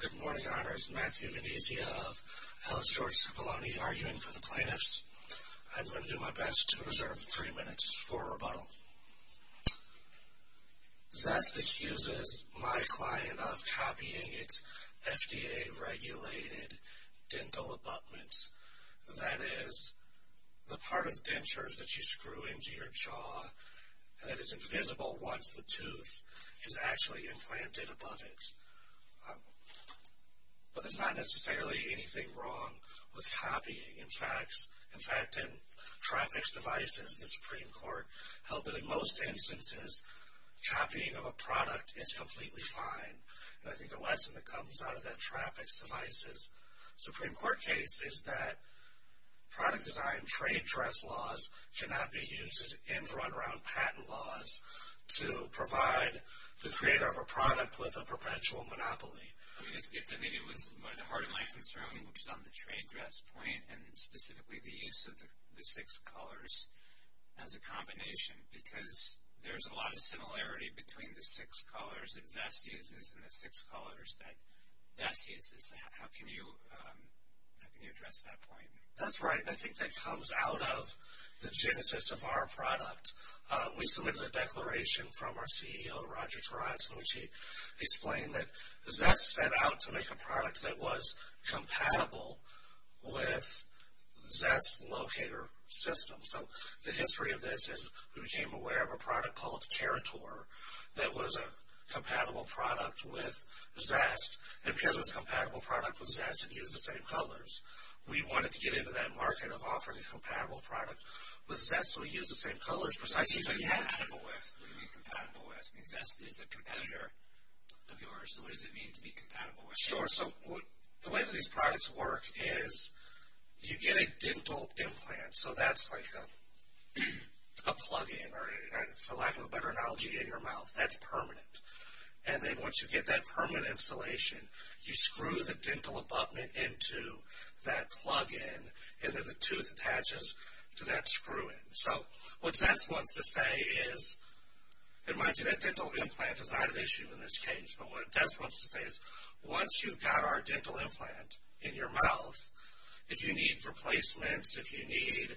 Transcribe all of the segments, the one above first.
Good morning, Honors. Matthew Venezia of Hellish George Cipollone arguing for the plaintiffs. I'm going to do my best to reserve three minutes for rebuttal. Zest accuses my client of copying its FDA-regulated dental abutments, that is, the part of dentures that you screw into your jaw that is invisible once the tooth is actually implanted above it. But there's not necessarily anything wrong with copying. In fact, in traffic devices, the Supreme Court held that in most instances, copying of a product is completely fine. I think the lesson that comes out of that traffic devices Supreme Court case is that product design trade dress laws cannot be used and run around patent laws to provide the creator of a product with a perpetual monopoly. I guess the other thing that was the heart of my concern, which is on the trade dress point, and specifically the use of the six colors as a combination, because there's a lot of similarity between the six colors that Zest uses and the six colors that Zest uses. How can you address that point? That's right, and I think that comes out of the genesis of our product. We submitted a declaration from our CEO, Roger Taraz, in which he explained that Zest set out to make a product that was compatible with Zest's locator system. So the history of this is we became aware of a product called Carator that was a compatible product with Zest, and because it was a compatible product with Zest, it used the same colors. We wanted to get into that market of offering a compatible product with Zest, so we used the same colors precisely. What do you mean compatible with? Zest is a competitor of yours, so what does it mean to be compatible with? Sure, so the way that these products work is you get a dental implant, so that's like a plug-in, for lack of a better analogy, in your mouth. That's permanent, and then once you get that permanent installation, you screw the dental abutment into that plug-in, and then the tooth attaches to that screw-in. So what Zest wants to say is, and mind you, that dental implant is not an issue in this case, but what Zest wants to say is once you've got our dental implant in your mouth, if you need replacements, if you need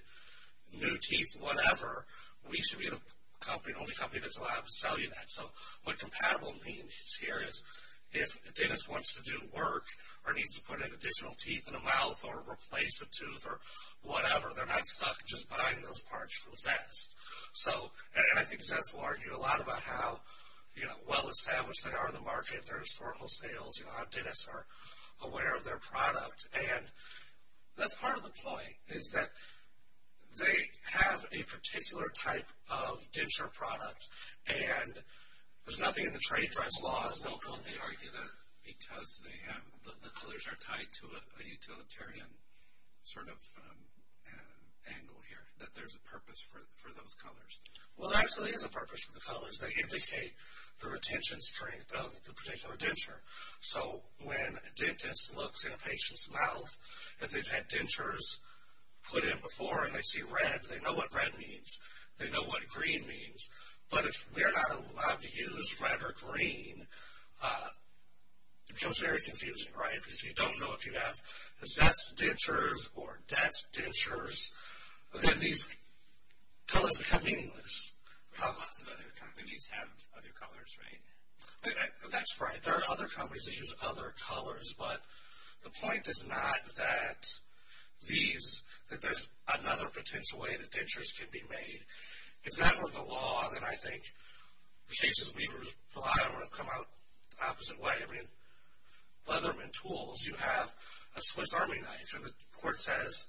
new teeth, whatever, we should be the only company that's allowed to sell you that. So what compatible means here is if Dennis wants to do work or needs to put in additional teeth in the mouth or replace a tooth or whatever, they're not stuck just buying those parts from Zest. So, and I think Zest will argue a lot about how well-established they are in the market, their historical sales, how Dennis are aware of their product, and that's part of the point is that they have a particular type of denture product, and there's nothing in the trade trust laws. Don't they argue that because the colors are tied to a utilitarian sort of angle here, that there's a purpose for those colors? Well, there actually is a purpose for the colors. They indicate the retention strength of the particular denture. So when a dentist looks in a patient's mouth, if they've had dentures put in before and they see red, they know what red means. They know what green means. But if we are not allowed to use red or green, it becomes very confusing, right, because you don't know if you have Zest dentures or Zest dentures. Then these colors become meaningless. Lots of other companies have other colors, right? That's right. There are other companies that use other colors, but the point is not that there's another potential way that dentures can be made. If that were the law, then I think the cases we rely on would have come out the opposite way. I mean, Leatherman Tools, you have a Swiss Army knife, and the court says,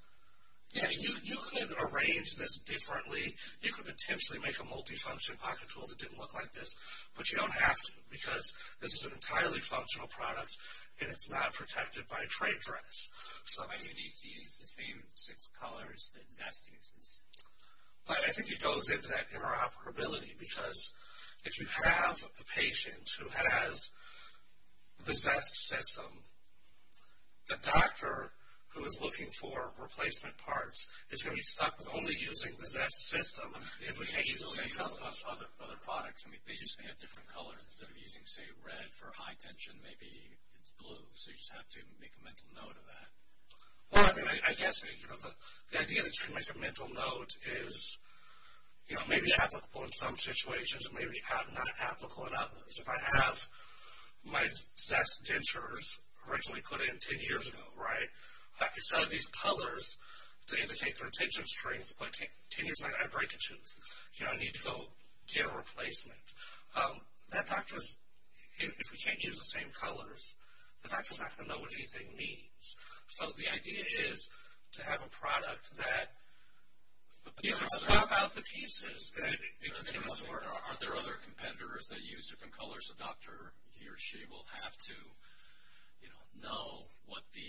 yeah, you could arrange this differently. You could potentially make a multifunction pocket tool that didn't look like this, but you don't have to because this is an entirely functional product, and it's not protected by a trade dress. Why do you need to use the same six colors that Zest uses? I think it goes into that interoperability because if you have a patient who has the Zest system, a doctor who is looking for replacement parts is going to be stuck with only using the Zest system. The implications are the same for other products. I mean, they just may have different colors. Instead of using, say, red for high tension, maybe it's blue, so you just have to make a mental note of that. Well, I mean, I guess the idea that you can make a mental note is, you know, maybe applicable in some situations, maybe not applicable in others. If I have my Zest dentures originally put in ten years ago, right, instead of these colors to indicate their tension strength, but ten years later I break a tooth, you know, I need to go get a replacement. That doctor, if we can't use the same colors, the doctor's not going to know what anything means. So the idea is to have a product that, you know, if you swap out the pieces, it continues to work. Aren't there other competitors that use different colors? The doctor, he or she will have to, you know, know what the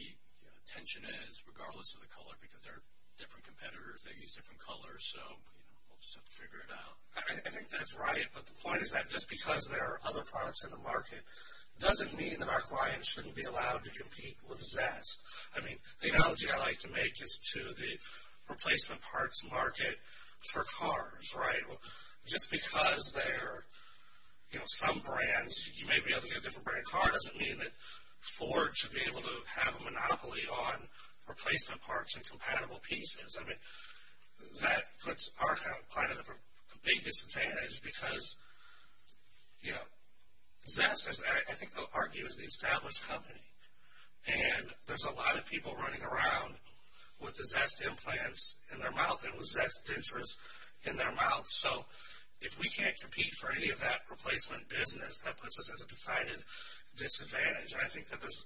tension is, regardless of the color, because there are different competitors that use different colors. So, you know, we'll just have to figure it out. I think that's right, but the point is that just because there are other products in the market doesn't mean that our clients shouldn't be allowed to compete with Zest. I mean, the analogy I like to make is to the replacement parts market for cars, right? Just because there are, you know, some brands, you may be able to get a different brand car, doesn't mean that Ford should be able to have a monopoly on replacement parts and compatible pieces. I mean, that puts our client at a big disadvantage because, you know, Zest, I think they'll argue, is the established company, and there's a lot of people running around with the Zest implants in their mouth, and with Zest dentures in their mouth. So, if we can't compete for any of that replacement business, that puts us at a decided disadvantage. And I think that there's,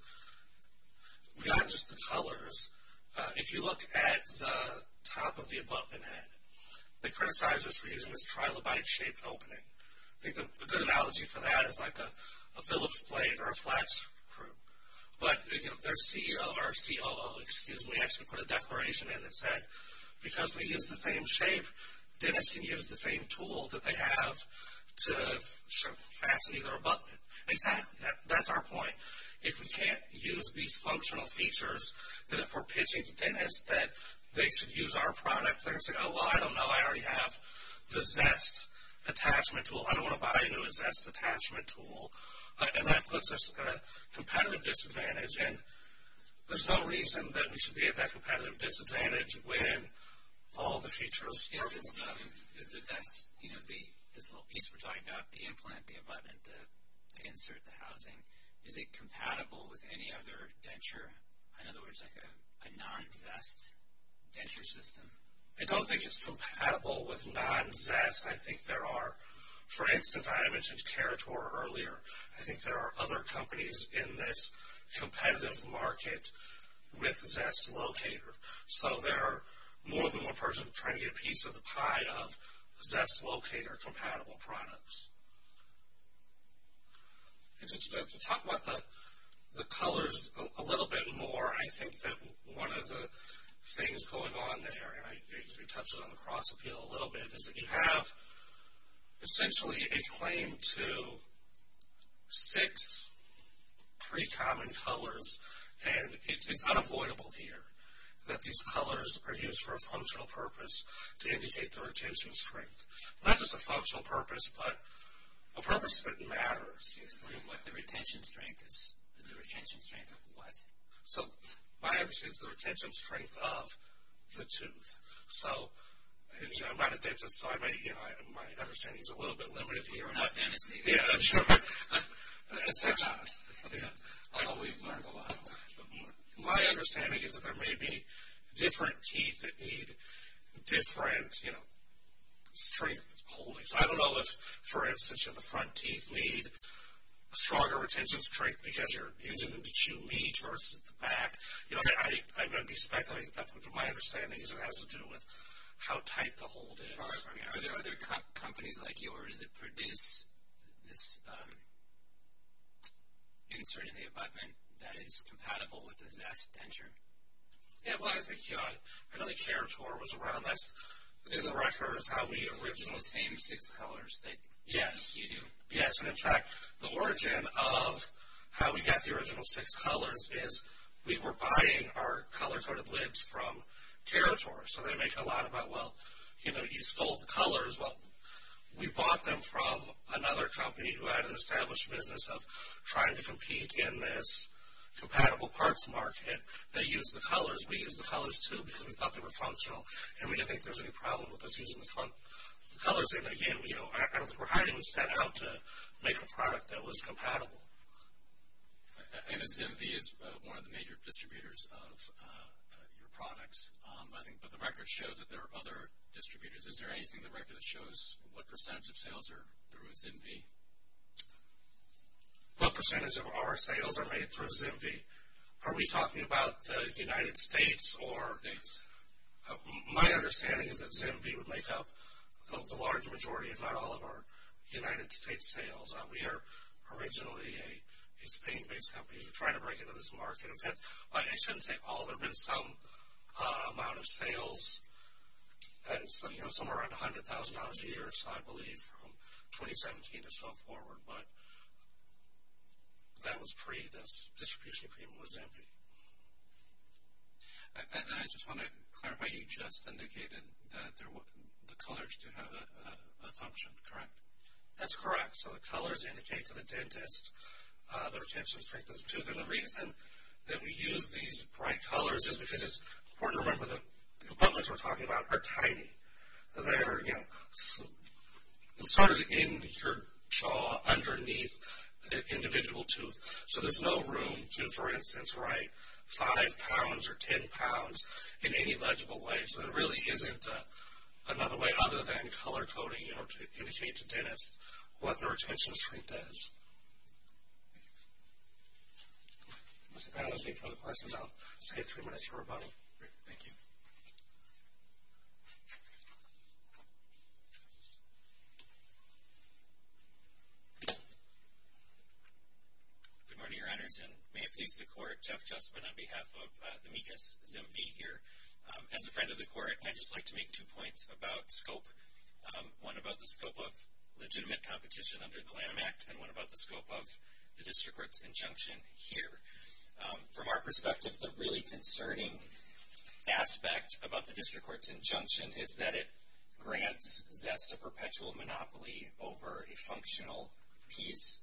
not just the colors, if you look at the top of the abutment head, they criticize us for using this trilobite-shaped opening. I think a good analogy for that is like a Phillips blade or a flat screw. But, you know, their CEO or COO, excuse me, actually put a declaration in that said, because we use the same shape, dentists can use the same tool that they have to fasten either abutment. Exactly, that's our point. If we can't use these functional features, then if we're pitching to dentists that they should use our product, they're going to say, oh, well, I don't know. I already have the Zest attachment tool. I don't want to buy a new Zest attachment tool. And that puts us at a competitive disadvantage. And there's no reason that we should be at that competitive disadvantage when all the features are working. This little piece we're talking about, the implant, the abutment, the insert, the housing, is it compatible with any other denture, in other words, like a non-Zest denture system? I don't think it's compatible with non-Zest. I think there are, for instance, I mentioned Kerator earlier. I think there are other companies in this competitive market with Zest Locator. So there are more than one person trying to get a piece of the pie of Zest Locator compatible products. To talk about the colors a little bit more, I think that one of the things going on there, and I think it touches on the cross appeal a little bit, is that you have essentially a claim to six pretty common colors, and it's unavoidable here that these colors are used for a functional purpose to indicate the retention strength. Not just a functional purpose, but a purpose that matters. The retention strength of what? My understanding is the retention strength of the tooth. I'm not a dentist, so my understanding is a little bit limited here. We're not dentists either. Yeah, sure. I know we've learned a lot. My understanding is that there may be different teeth that need different strength holdings. I don't know if, for instance, the front teeth need stronger retention strength because you're using them to chew meat versus the back. I'm going to be speculating, but my understanding is it has to do with how tight the hold is. Are there companies like yours that produce this insert in the abutment that is compatible with the Zest Denture? Yeah, well, I think another Kerator was around. That's in the records how we originally saved six colors. Yes. You do? Yes. In fact, the origin of how we got the original six colors is we were buying our color-coded lids from Kerator. So they make a lot about, well, you stole the colors. Well, we bought them from another company who had an established business of trying to compete in this compatible parts market. They used the colors. We used the colors, too, because we thought they were functional, and we didn't think there was any problem with us using the front colors. And, again, I don't think we're hiding what we set out to make a product that was compatible. And ZimV is one of the major distributors of your products, I think, but the record shows that there are other distributors. Is there anything in the record that shows what percentage of sales are through ZimV? What percentage of our sales are made through ZimV? Are we talking about the United States? My understanding is that ZimV would make up the large majority, if not all, of our United States sales. We are originally a Spain-based company. We're trying to break into this market. I shouldn't say all. There have been some amount of sales, somewhere around $100,000 a year or so, I believe, from 2017 or so forward. But that was pre-this distribution agreement was ZimV. And I just want to clarify, you just indicated that the colors do have a function, correct? That's correct. So the colors indicate to the dentist their attention strength is due. And the reason that we use these bright colors is because it's important to remember that the components we're talking about are tiny. They're, you know, sort of in your jaw underneath the individual tooth. So there's no room to, for instance, write five pounds or ten pounds in any legible way. So there really isn't another way other than color coding, you know, to indicate to dentists what their attention strength is. If there's any further questions, I'll save three minutes for rebuttal. Thank you. Good morning, Your Honors. And may it please the Court, Jeff Justman on behalf of the MECAS ZimV here. As a friend of the Court, I'd just like to make two points about scope, one about the scope of legitimate competition under the LAM Act and one about the scope of the district court's injunction here. From our perspective, the really concerning aspect about the district court's injunction is that it grants Zest a perpetual monopoly over a functional piece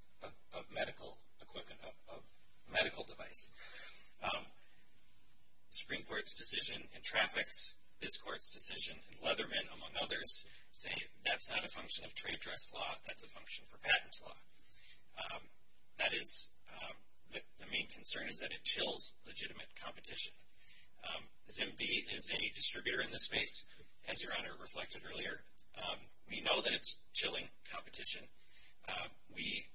of medical equipment, of medical device. Supreme Court's decision in traffics, this Court's decision in Leatherman, among others, say that's not a function of trade dress law, that's a function for patent law. That is, the main concern is that it chills legitimate competition. ZimV is a distributor in this space, as Your Honor reflected earlier. We know that it's chilling competition. We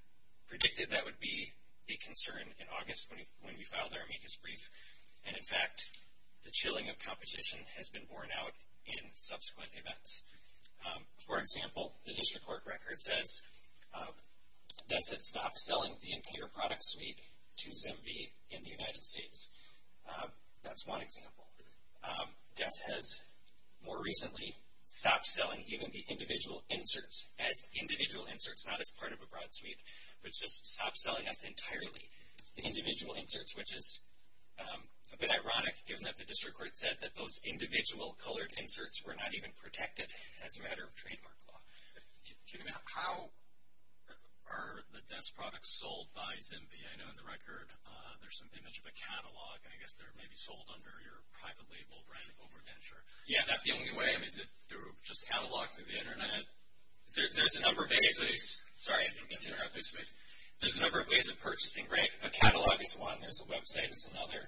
predicted that would be a concern in August when we filed our MECAS brief. And, in fact, the chilling of competition has been borne out in subsequent events. For example, the district court record says Zest has stopped selling the entire product suite to ZimV in the United States. That's one example. Zest has more recently stopped selling even the individual inserts as individual inserts, not as part of a broad suite, but just stopped selling us entirely the individual inserts, which is a bit ironic given that the district court said that those individual colored inserts were not even protected as a matter of trademark law. How are the Zest products sold by ZimV? I know in the record there's an image of a catalog, and I guess they're maybe sold under your private label brand OverVenture. Is that the only way? I mean, is it through just catalogs or the Internet? There's a number of ways of purchasing. A catalog is one. There's a website that's another.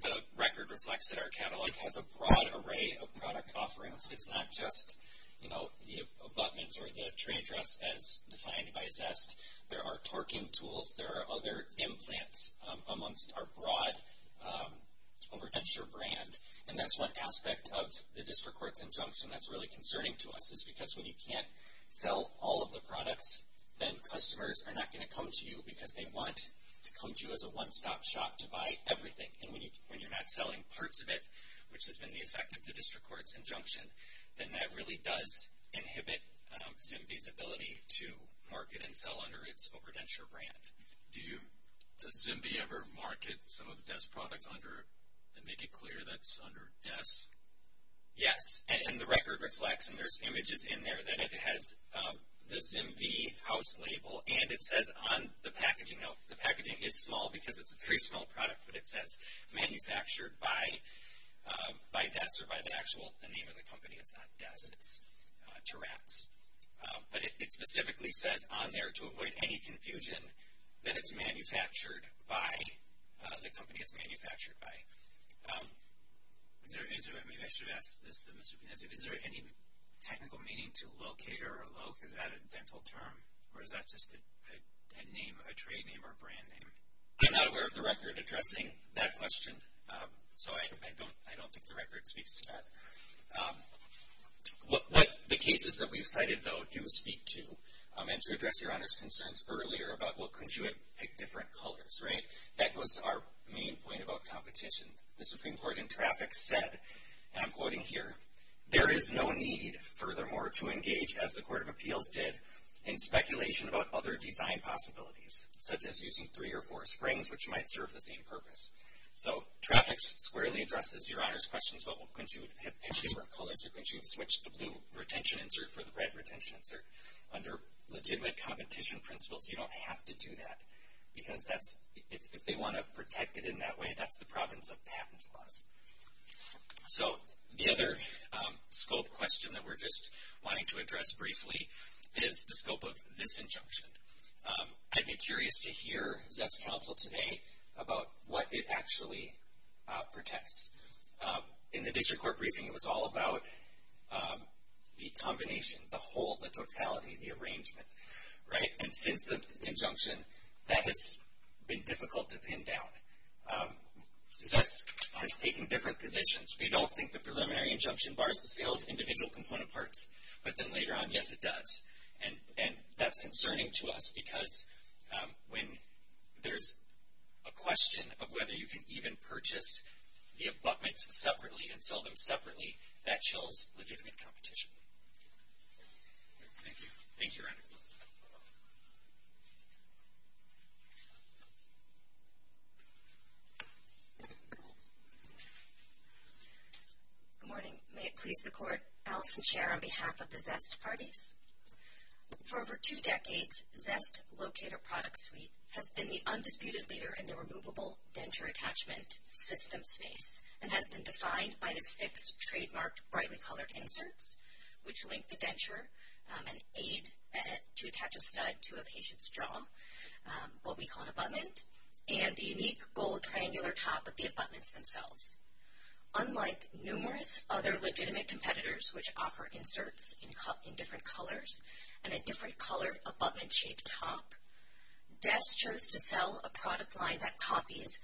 The record reflects that our catalog has a broad array of product offerings. It's not just, you know, the abutments or the tray dress as defined by Zest. There are torquing tools. There are other implants amongst our broad OverVenture brand. And that's one aspect of the district court's injunction that's really concerning to us, is because when you can't sell all of the products, then customers are not going to come to you because they want to come to you as a one-stop shop to buy everything. And when you're not selling parts of it, which has been the effect of the district court's injunction, then that really does inhibit ZimV's ability to market and sell under its OverVenture brand. Does ZimV ever market some of the Zest products under, and make it clear that's under Zest? Yes. And the record reflects, and there's images in there, that it has the ZimV house label, and it says on the packaging, no, the packaging is small because it's a very small product, but it says manufactured by Zest, or by the actual name of the company. It's not Zest. It's Terats. But it specifically says on there, to avoid any confusion, that it's manufactured by the company it's manufactured by. Is there any technical meaning to locator or loc, is that a dental term? Or is that just a name, a trade name or a brand name? I'm not aware of the record addressing that question, so I don't think the record speaks to that. What the cases that we've cited, though, do speak to, and to address Your Honor's concerns earlier about, well, couldn't you have picked different colors, right? That goes to our main point about competition. The Supreme Court in traffic said, and I'm quoting here, there is no need, furthermore, to engage, as the Court of Appeals did, in speculation about other design possibilities, such as using three or four springs, which might serve the same purpose. So traffic squarely addresses Your Honor's questions about, well, couldn't you have picked different colors, or couldn't you have switched the blue retention insert for the red retention insert? Under legitimate competition principles, you don't have to do that, because if they want to protect it in that way, that's the province of patent laws. So the other scope question that we're just wanting to address briefly is the scope of this injunction. I'd be curious to hear Zest's counsel today about what it actually protects. In the district court briefing, it was all about the combination, the whole, the totality, the arrangement, right? And since the injunction, that has been difficult to pin down. Zest has taken different positions. We don't think the preliminary injunction bars the sale of individual component parts. But then later on, yes, it does. And that's concerning to us, because when there's a question of whether you can even purchase the abutments separately and sell them separately, that shows legitimate competition. Thank you. Thank you, Your Honor. Thank you. Good morning. May it please the court. Allison Scherr on behalf of the Zest parties. For over two decades, Zest Locator Product Suite has been the undisputed leader in the removable denture attachment system space and has been defined by the six trademarked brightly colored inserts, which link the denture, an aid to attach a stud to a patient's jaw, what we call an abutment, and the unique gold triangular top of the abutments themselves. Unlike numerous other legitimate competitors which offer inserts in different colors and a different colored abutment shaped top, Zest chose to sell a product line that copies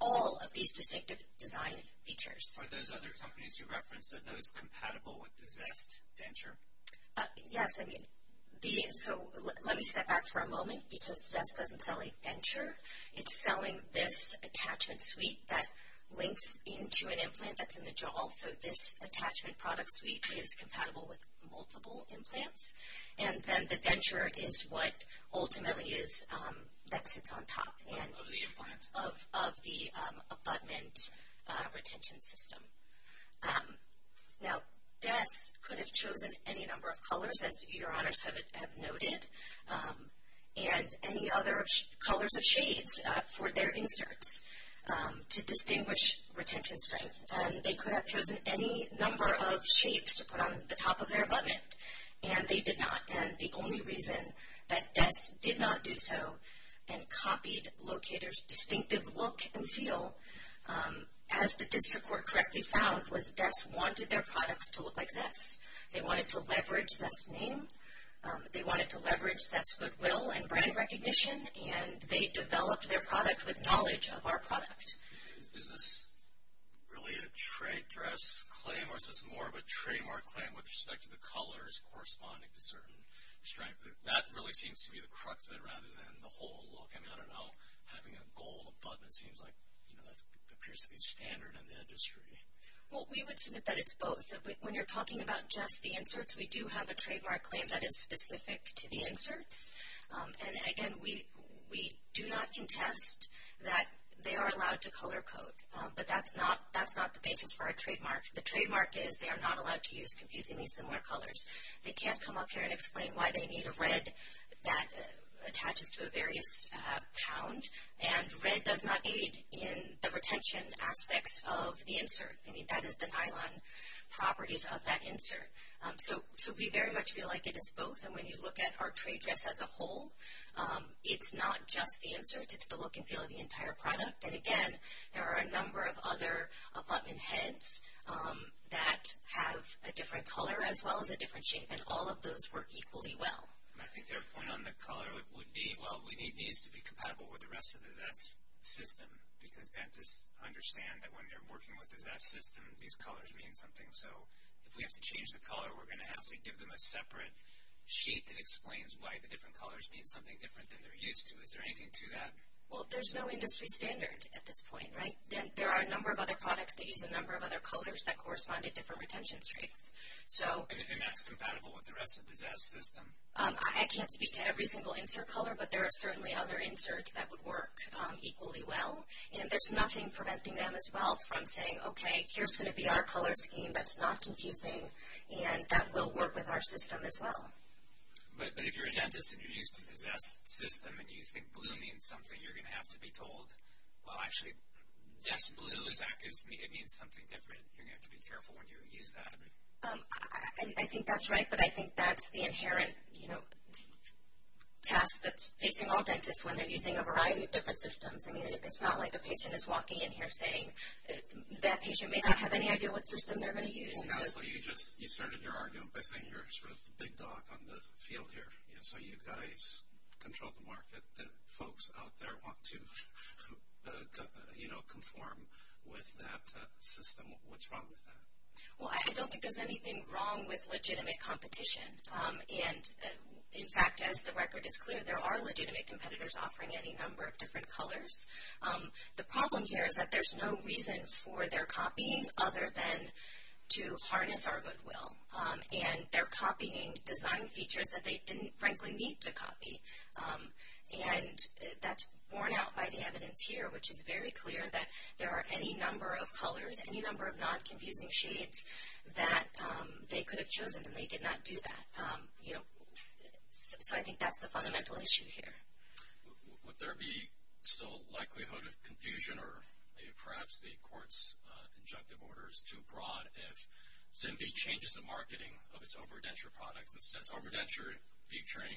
all of these distinctive design features. Are those other companies you referenced, are those compatible with the Zest denture? Yes. So let me step back for a moment, because Zest doesn't sell a denture. It's selling this attachment suite that links into an implant that's in the jaw. So this attachment product suite is compatible with multiple implants, and then the denture is what ultimately is, that sits on top of the abutment retention system. Now, Zest could have chosen any number of colors, as your honors have noted, and any other colors of shades for their inserts to distinguish retention strength, and they could have chosen any number of shapes to put on the top of their abutment, and they did not, and the only reason that Zest did not do so and copied Locator's distinctive look and feel, as the district court correctly found, was Zest wanted their products to look like Zest. They wanted to leverage Zest's name, they wanted to leverage Zest's goodwill and brand recognition, and they developed their product with knowledge of our product. Is this really a trade dress claim, or is this more of a trademark claim with respect to the colors corresponding to certain strength? That really seems to be the crux of it rather than the whole look. I mean, I don't know, having a gold abutment seems like, you know, that appears to be standard in the industry. Well, we would submit that it's both. When you're talking about just the inserts, we do have a trademark claim that is specific to the inserts, and again, we do not contest that they are allowed to color code, but that's not the basis for our trademark. The trademark is they are not allowed to use confusingly similar colors. They can't come up here and explain why they need a red that attaches to a various pound, and red does not aid in the retention aspects of the insert. I mean, that is the nylon properties of that insert. So, we very much feel like it is both, and when you look at our trade dress as a whole, it's not just the inserts. It's the look and feel of the entire product, and again, there are a number of other abutment heads that have a different color as well as a different shape, and all of those work equally well. I think their point on the color would be, well, we need these to be compatible with the rest of the Zest system, because dentists understand that when they're working with the Zest system, these colors mean something. So, if we have to change the color, we're going to have to give them a separate sheet that explains why the different colors mean something different than they're used to. Is there anything to that? Well, there's no industry standard at this point, right? There are a number of other products that use a number of other colors that correspond to different retention strengths. And that's compatible with the rest of the Zest system? I can't speak to every single insert color, but there are certainly other inserts that would work equally well, and there's nothing preventing them as well from saying, okay, here's going to be our color scheme that's not confusing, and that will work with our system as well. But if you're a dentist and you're used to the Zest system and you think blue means something, you're going to have to be told, well, actually, Zest blue means something different. You're going to have to be careful when you use that. I think that's right, but I think that's the inherent task that's facing all dentists when they're using a variety of different systems. I mean, it's not like a patient is walking in here saying, that patient may not have any idea what system they're going to use. You started your argument by saying you're sort of the big dog on the field here, so you've got to control the market that folks out there want to conform with that system. What's wrong with that? Well, I don't think there's anything wrong with legitimate competition. And, in fact, as the record is clear, there are legitimate competitors offering any number of different colors. The problem here is that there's no reason for their copying other than to harness our goodwill. And they're copying design features that they didn't, frankly, need to copy. And that's borne out by the evidence here, which is very clear that there are any number of colors, any number of non-confusing shades that they could have chosen, and they did not do that. So I think that's the fundamental issue here. Would there be still likelihood of confusion, or perhaps the court's injunctive order is too broad, if Zimby changes the marketing of its OverDenture products that says OverDenture featuring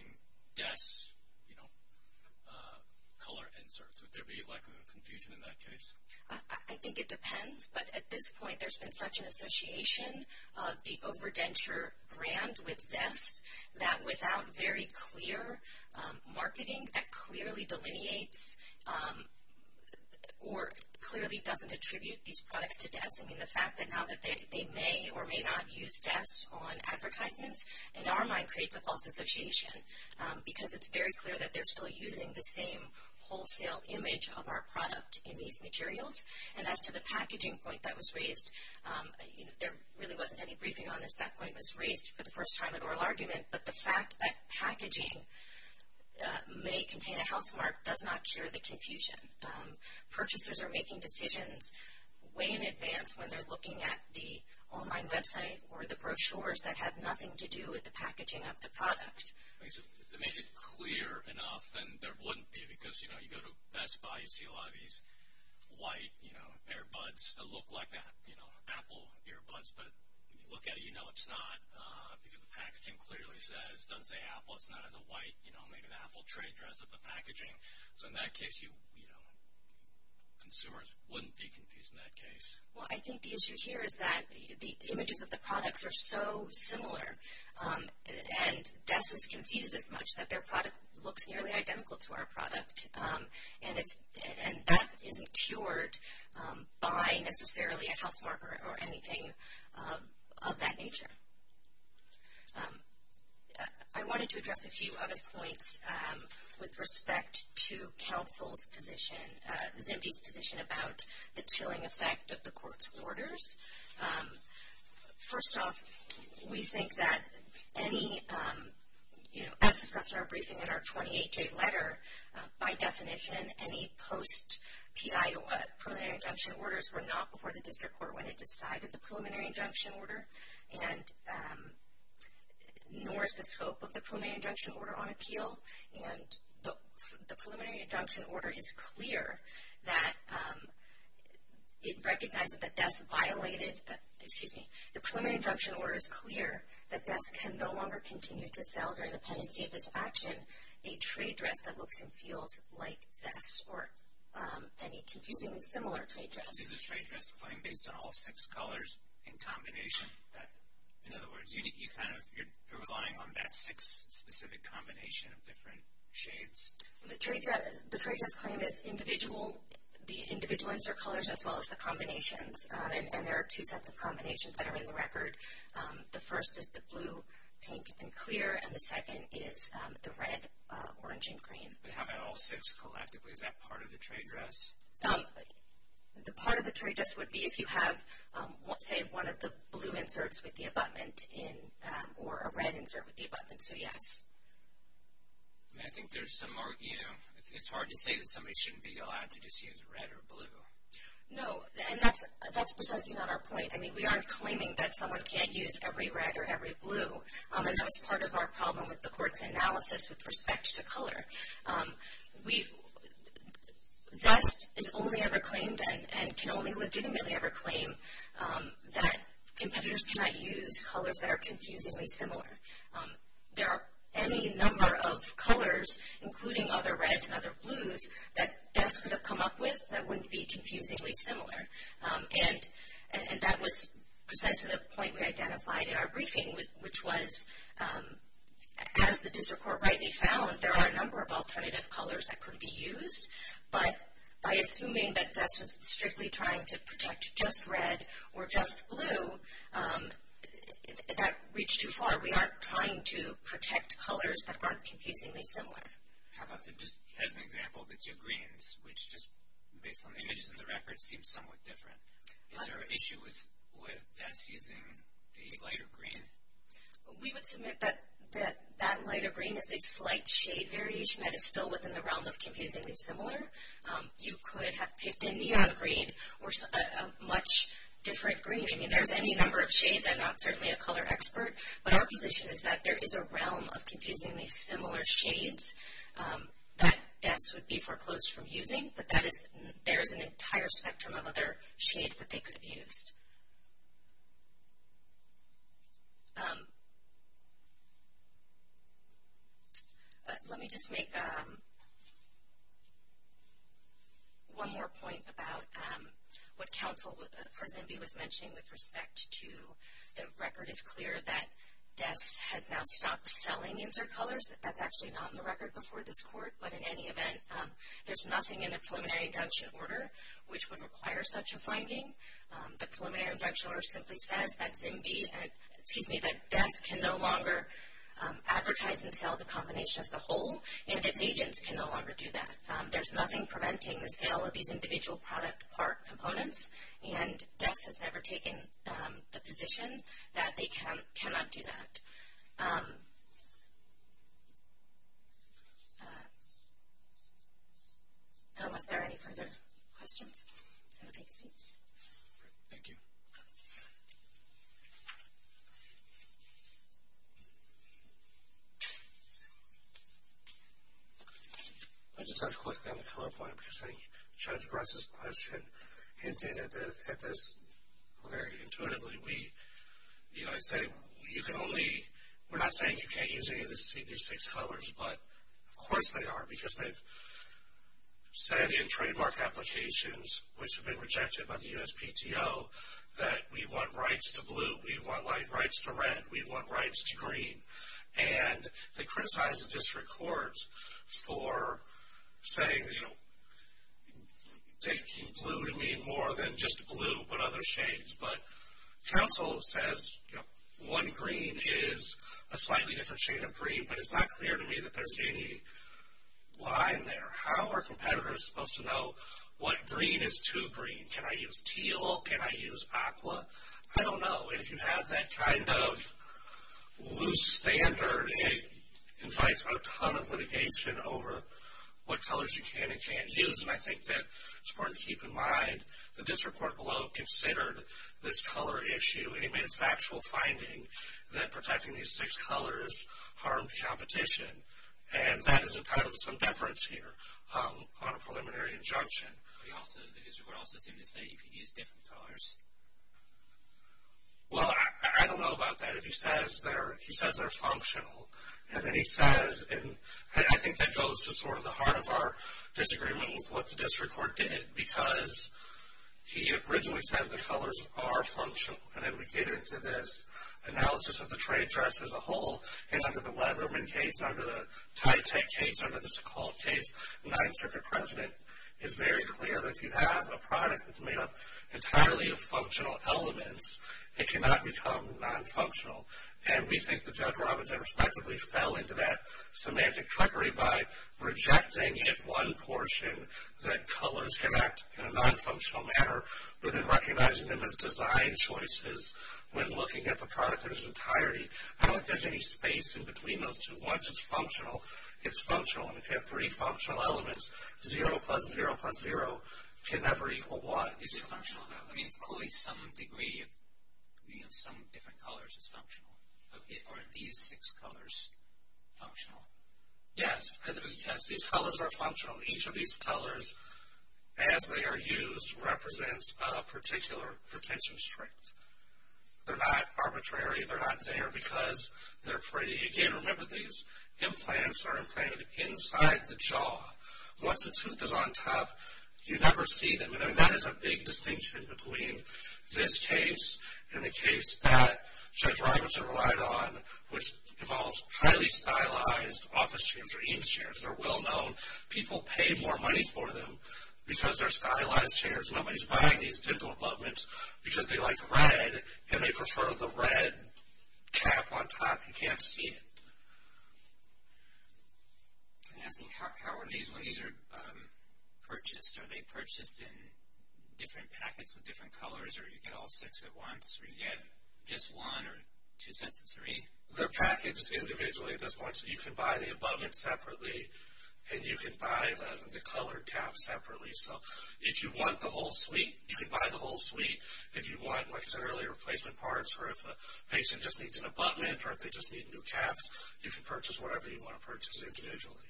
desk color inserts? Would there be a likelihood of confusion in that case? I think it depends. But at this point, there's been such an association of the OverDenture brand with zest that without very clear marketing that clearly delineates or clearly doesn't attribute these products to desks. I mean, the fact that now that they may or may not use desks on advertisements, in our mind, creates a false association, because it's very clear that they're still using the same wholesale image of our product in these materials. And as to the packaging point that was raised, there really wasn't any briefing on this. That point was raised for the first time in oral argument. But the fact that packaging may contain a housemark does not cure the confusion. Purchasers are making decisions way in advance when they're looking at the online website or the brochures that have nothing to do with the packaging of the product. If they made it clear enough, then there wouldn't be, because, you know, you go to Best Buy, you see a lot of these white earbuds that look like Apple earbuds. But when you look at it, you know it's not, because the packaging clearly says, it doesn't say Apple, it's not in the white, maybe the Apple trade dress of the packaging. So in that case, consumers wouldn't be confused in that case. Well, I think the issue here is that the images of the products are so similar. And Dessus concedes as much that their product looks nearly identical to our product. And that isn't cured by necessarily a housemark or anything of that nature. I wanted to address a few other points with respect to counsel's position, Zimbee's position about the chilling effect of the court's orders. First off, we think that any, you know, as discussed in our briefing in our 28-J letter, by definition, any post-PIOA preliminary injunction orders were not before the district court when it decided the preliminary injunction order. And nor is the scope of the preliminary injunction order on appeal. And the preliminary injunction order is clear that it recognized that Dess violated, excuse me, the preliminary injunction order is clear that Dess can no longer continue to sell during the pendency of this action a trade dress that looks and feels like Zess or any confusingly similar trade dress. Is the trade dress claim based on all six colors in combination? In other words, you're relying on that six specific combination of different shades? The trade dress claim is individual. The individual ones are colors as well as the combinations. And there are two sets of combinations that are in the record. The first is the blue, pink, and clear, and the second is the red, orange, and green. But how about all six collectively? Is that part of the trade dress? The part of the trade dress would be if you have, say, one of the blue inserts with the abutment or a red insert with the abutment, so yes. I think there's some more, you know, it's hard to say that somebody shouldn't be allowed to just use red or blue. No, and that's precisely not our point. I mean, we aren't claiming that someone can't use every red or every blue. And that was part of our problem with the court's analysis with respect to color. Zest is only ever claimed and can only legitimately ever claim that competitors cannot use colors that are confusingly similar. There are any number of colors, including other reds and other blues, that Zest could have come up with that wouldn't be confusingly similar. And that was precisely the point we identified in our briefing, which was as the district court rightly found, there are a number of alternative colors that could be used. But by assuming that Zest was strictly trying to protect just red or just blue, that reached too far. We aren't trying to protect colors that aren't confusingly similar. How about, just as an example, the two greens, which just based on the images in the record seem somewhat different. Is there an issue with Zest using the lighter green? We would submit that that lighter green is a slight shade variation that is still within the realm of confusingly similar. You could have picked a neon green or a much different green. I mean, there's any number of shades. I'm not certainly a color expert. But our position is that there is a realm of confusingly similar shades that Zest would be foreclosed from using. But there is an entire spectrum of other shades that they could have used. Let me just make one more point about what counsel for Zimby was mentioning with respect to the record. It's clear that Zest has now stopped selling insert colors. That's actually not on the record before this court. But in any event, there's nothing in the preliminary injunction order which would require such a finding. The preliminary injunction order simply says that Zimby, excuse me, that Dex can no longer advertise and sell the combination as a whole, and its agents can no longer do that. There's nothing preventing the sale of these individual product components. And Dex has never taken the position that they cannot do that. Unless there are any further questions, I will take a seat. Thank you. I'll just ask quickly on the PowerPoint, because I think Judge Bratz's question hinted at this very intuitively. We, you know, I say you can only, we're not saying you can't use any of the CD6 colors, but of course they are. Because they've said in trademark applications, which have been rejected by the USPTO, that we want rights to blue, we want rights to red, we want rights to green. And they criticized the district court for saying, you know, taking blue would mean more than just blue, but other shades. But counsel says, you know, one green is a slightly different shade of green. But it's not clear to me that there's any line there. How are competitors supposed to know what green is to green? Can I use teal? Can I use aqua? I don't know. If you have that kind of loose standard, it invites a ton of litigation over what colors you can and can't use. And I think that it's important to keep in mind the district court below considered this color issue. And he made a factual finding that protecting these six colors harmed competition. And that is entitled to some deference here on a preliminary injunction. But he also, the district court also seemed to say you can use different colors. Well, I don't know about that. If he says they're functional, and then he says, and I think that goes to sort of the heart of our disagreement with what the district court did, because he originally says the colors are functional. And then we get into this analysis of the trade charts as a whole. And under the Leatherman case, under the Tytech case, under the Sokol case, the 9th Circuit President is very clear that if you have a product that's made up entirely of functional elements, it cannot become non-functional. And we think that Judge Robinson respectively fell into that semantic trickery by rejecting at one portion that colors can act in a non-functional manner, but then recognizing them as design choices when looking at the product in its entirety. I don't think there's any space in between those two. Once it's functional, it's functional. And if you have three functional elements, 0 plus 0 plus 0 can never equal 1. Is it functional though? I mean, it's clearly some degree of, you know, some different colors is functional. Are these six colors functional? Yes. Yes, these colors are functional. Each of these colors, as they are used, represents a particular retention strength. They're not arbitrary. They're not there because they're pretty. Again, remember these implants are implanted inside the jaw. Once the tooth is on top, you never see them. I mean, that is a big distinction between this case and the case that Judge Robinson relied on, which involves highly stylized office chairs or Eames chairs. They're well-known. People pay more money for them because they're stylized chairs. Nobody's buying these dental implants because they like red and they prefer the red cap on top. You can't see it. Can I ask you, how are these when these are purchased? Are they purchased in different packets with different colors or do you get all six at once or do you get just one or two sets of three? They're packaged individually at this point, so you can buy the abutment separately and you can buy the colored cap separately. So if you want the whole suite, you can buy the whole suite. If you want, like I said earlier, replacement parts or if a patient just needs an abutment or if they just need new caps, you can purchase whatever you want to purchase individually,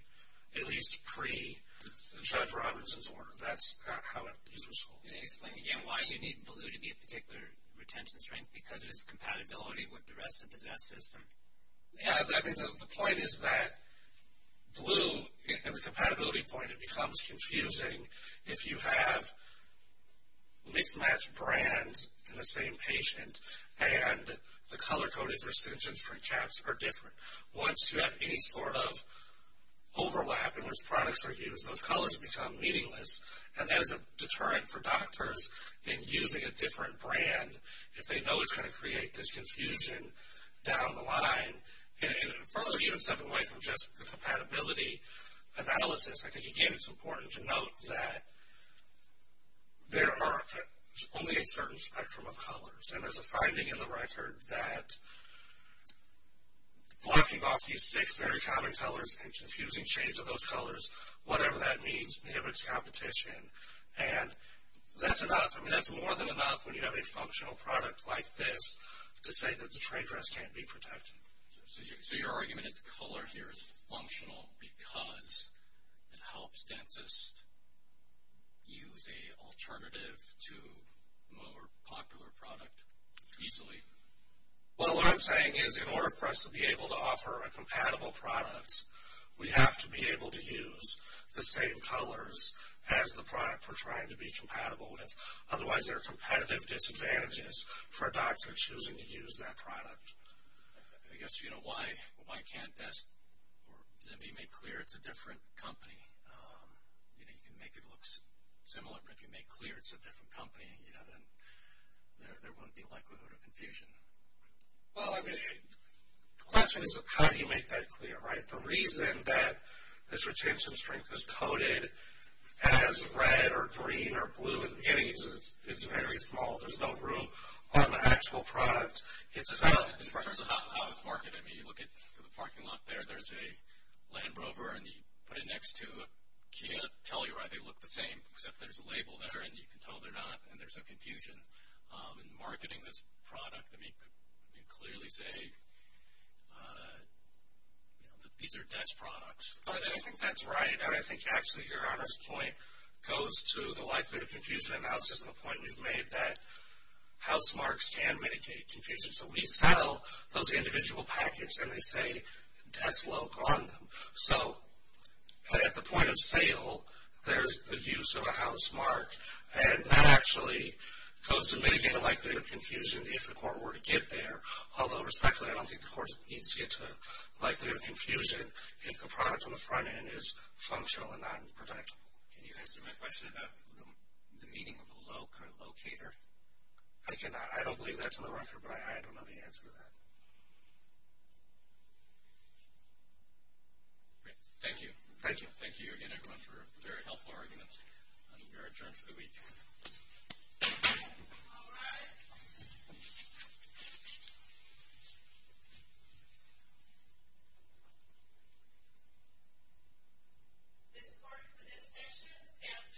at least pre-Judge Robinson's order. That's how these were sold. Can you explain again why you need blue to be a particular retention string? Because of its compatibility with the rest of the Zest system. Yeah, I mean, the point is that blue and the compatibility point, it becomes confusing if you have mixed match brands in the same patient and the color-coded retention string caps are different. Once you have any sort of overlap in which products are used, those colors become meaningless, and that is a deterrent for doctors in using a different brand if they know it's going to create this confusion down the line. And further, even stepping away from just the compatibility analysis, I think, again, it's important to note that there are only a certain spectrum of colors and there's a finding in the record that blocking off these six very common colors and confusing shades of those colors, whatever that means, inhibits competition. And that's more than enough when you have a functional product like this to say that the trade dress can't be protected. So your argument is color here is functional because it helps dentists use an alternative to a more popular product easily. Well, what I'm saying is in order for us to be able to offer a compatible product, we have to be able to use the same colors as the product we're trying to be compatible with. Otherwise, there are competitive disadvantages for a doctor choosing to use that product. I guess, you know, why can't this be made clear it's a different company? You know, you can make it look similar, but if you make clear it's a different company, you know, then there won't be likelihood of confusion. Well, I mean, the question is how do you make that clear, right? The reason that this retention strength is coded as red or green or blue in the beginning is because it's very small. There's no room on the actual product itself. In terms of how it's marketed, I mean, you look at the parking lot there. There's a Land Rover, and you put it next to a Kia Telluride. They look the same, except there's a label there, and you can tell they're not, and there's no confusion. In marketing this product, I mean, you could clearly say, you know, these are desk products. I think that's right. And I think, actually, Your Honor's point goes to the likelihood of confusion analysis and the point we've made that house marks can mitigate confusion. So we sell those individual packets, and they say, desk look on them. So at the point of sale, there's the use of a house mark, and that actually goes to mitigate the likelihood of confusion if the court were to get there. Although, respectfully, I don't think the court needs to get to likelihood of confusion if the product on the front end is functional and not protectable. Can you answer my question about the meaning of a locator? I cannot. I don't believe that's on the record, but I don't know the answer to that. Thank you. Thank you. Thank you again, everyone, for a very helpful argument. You're adjourned for the week. All rise. This court for this session stands adjourned.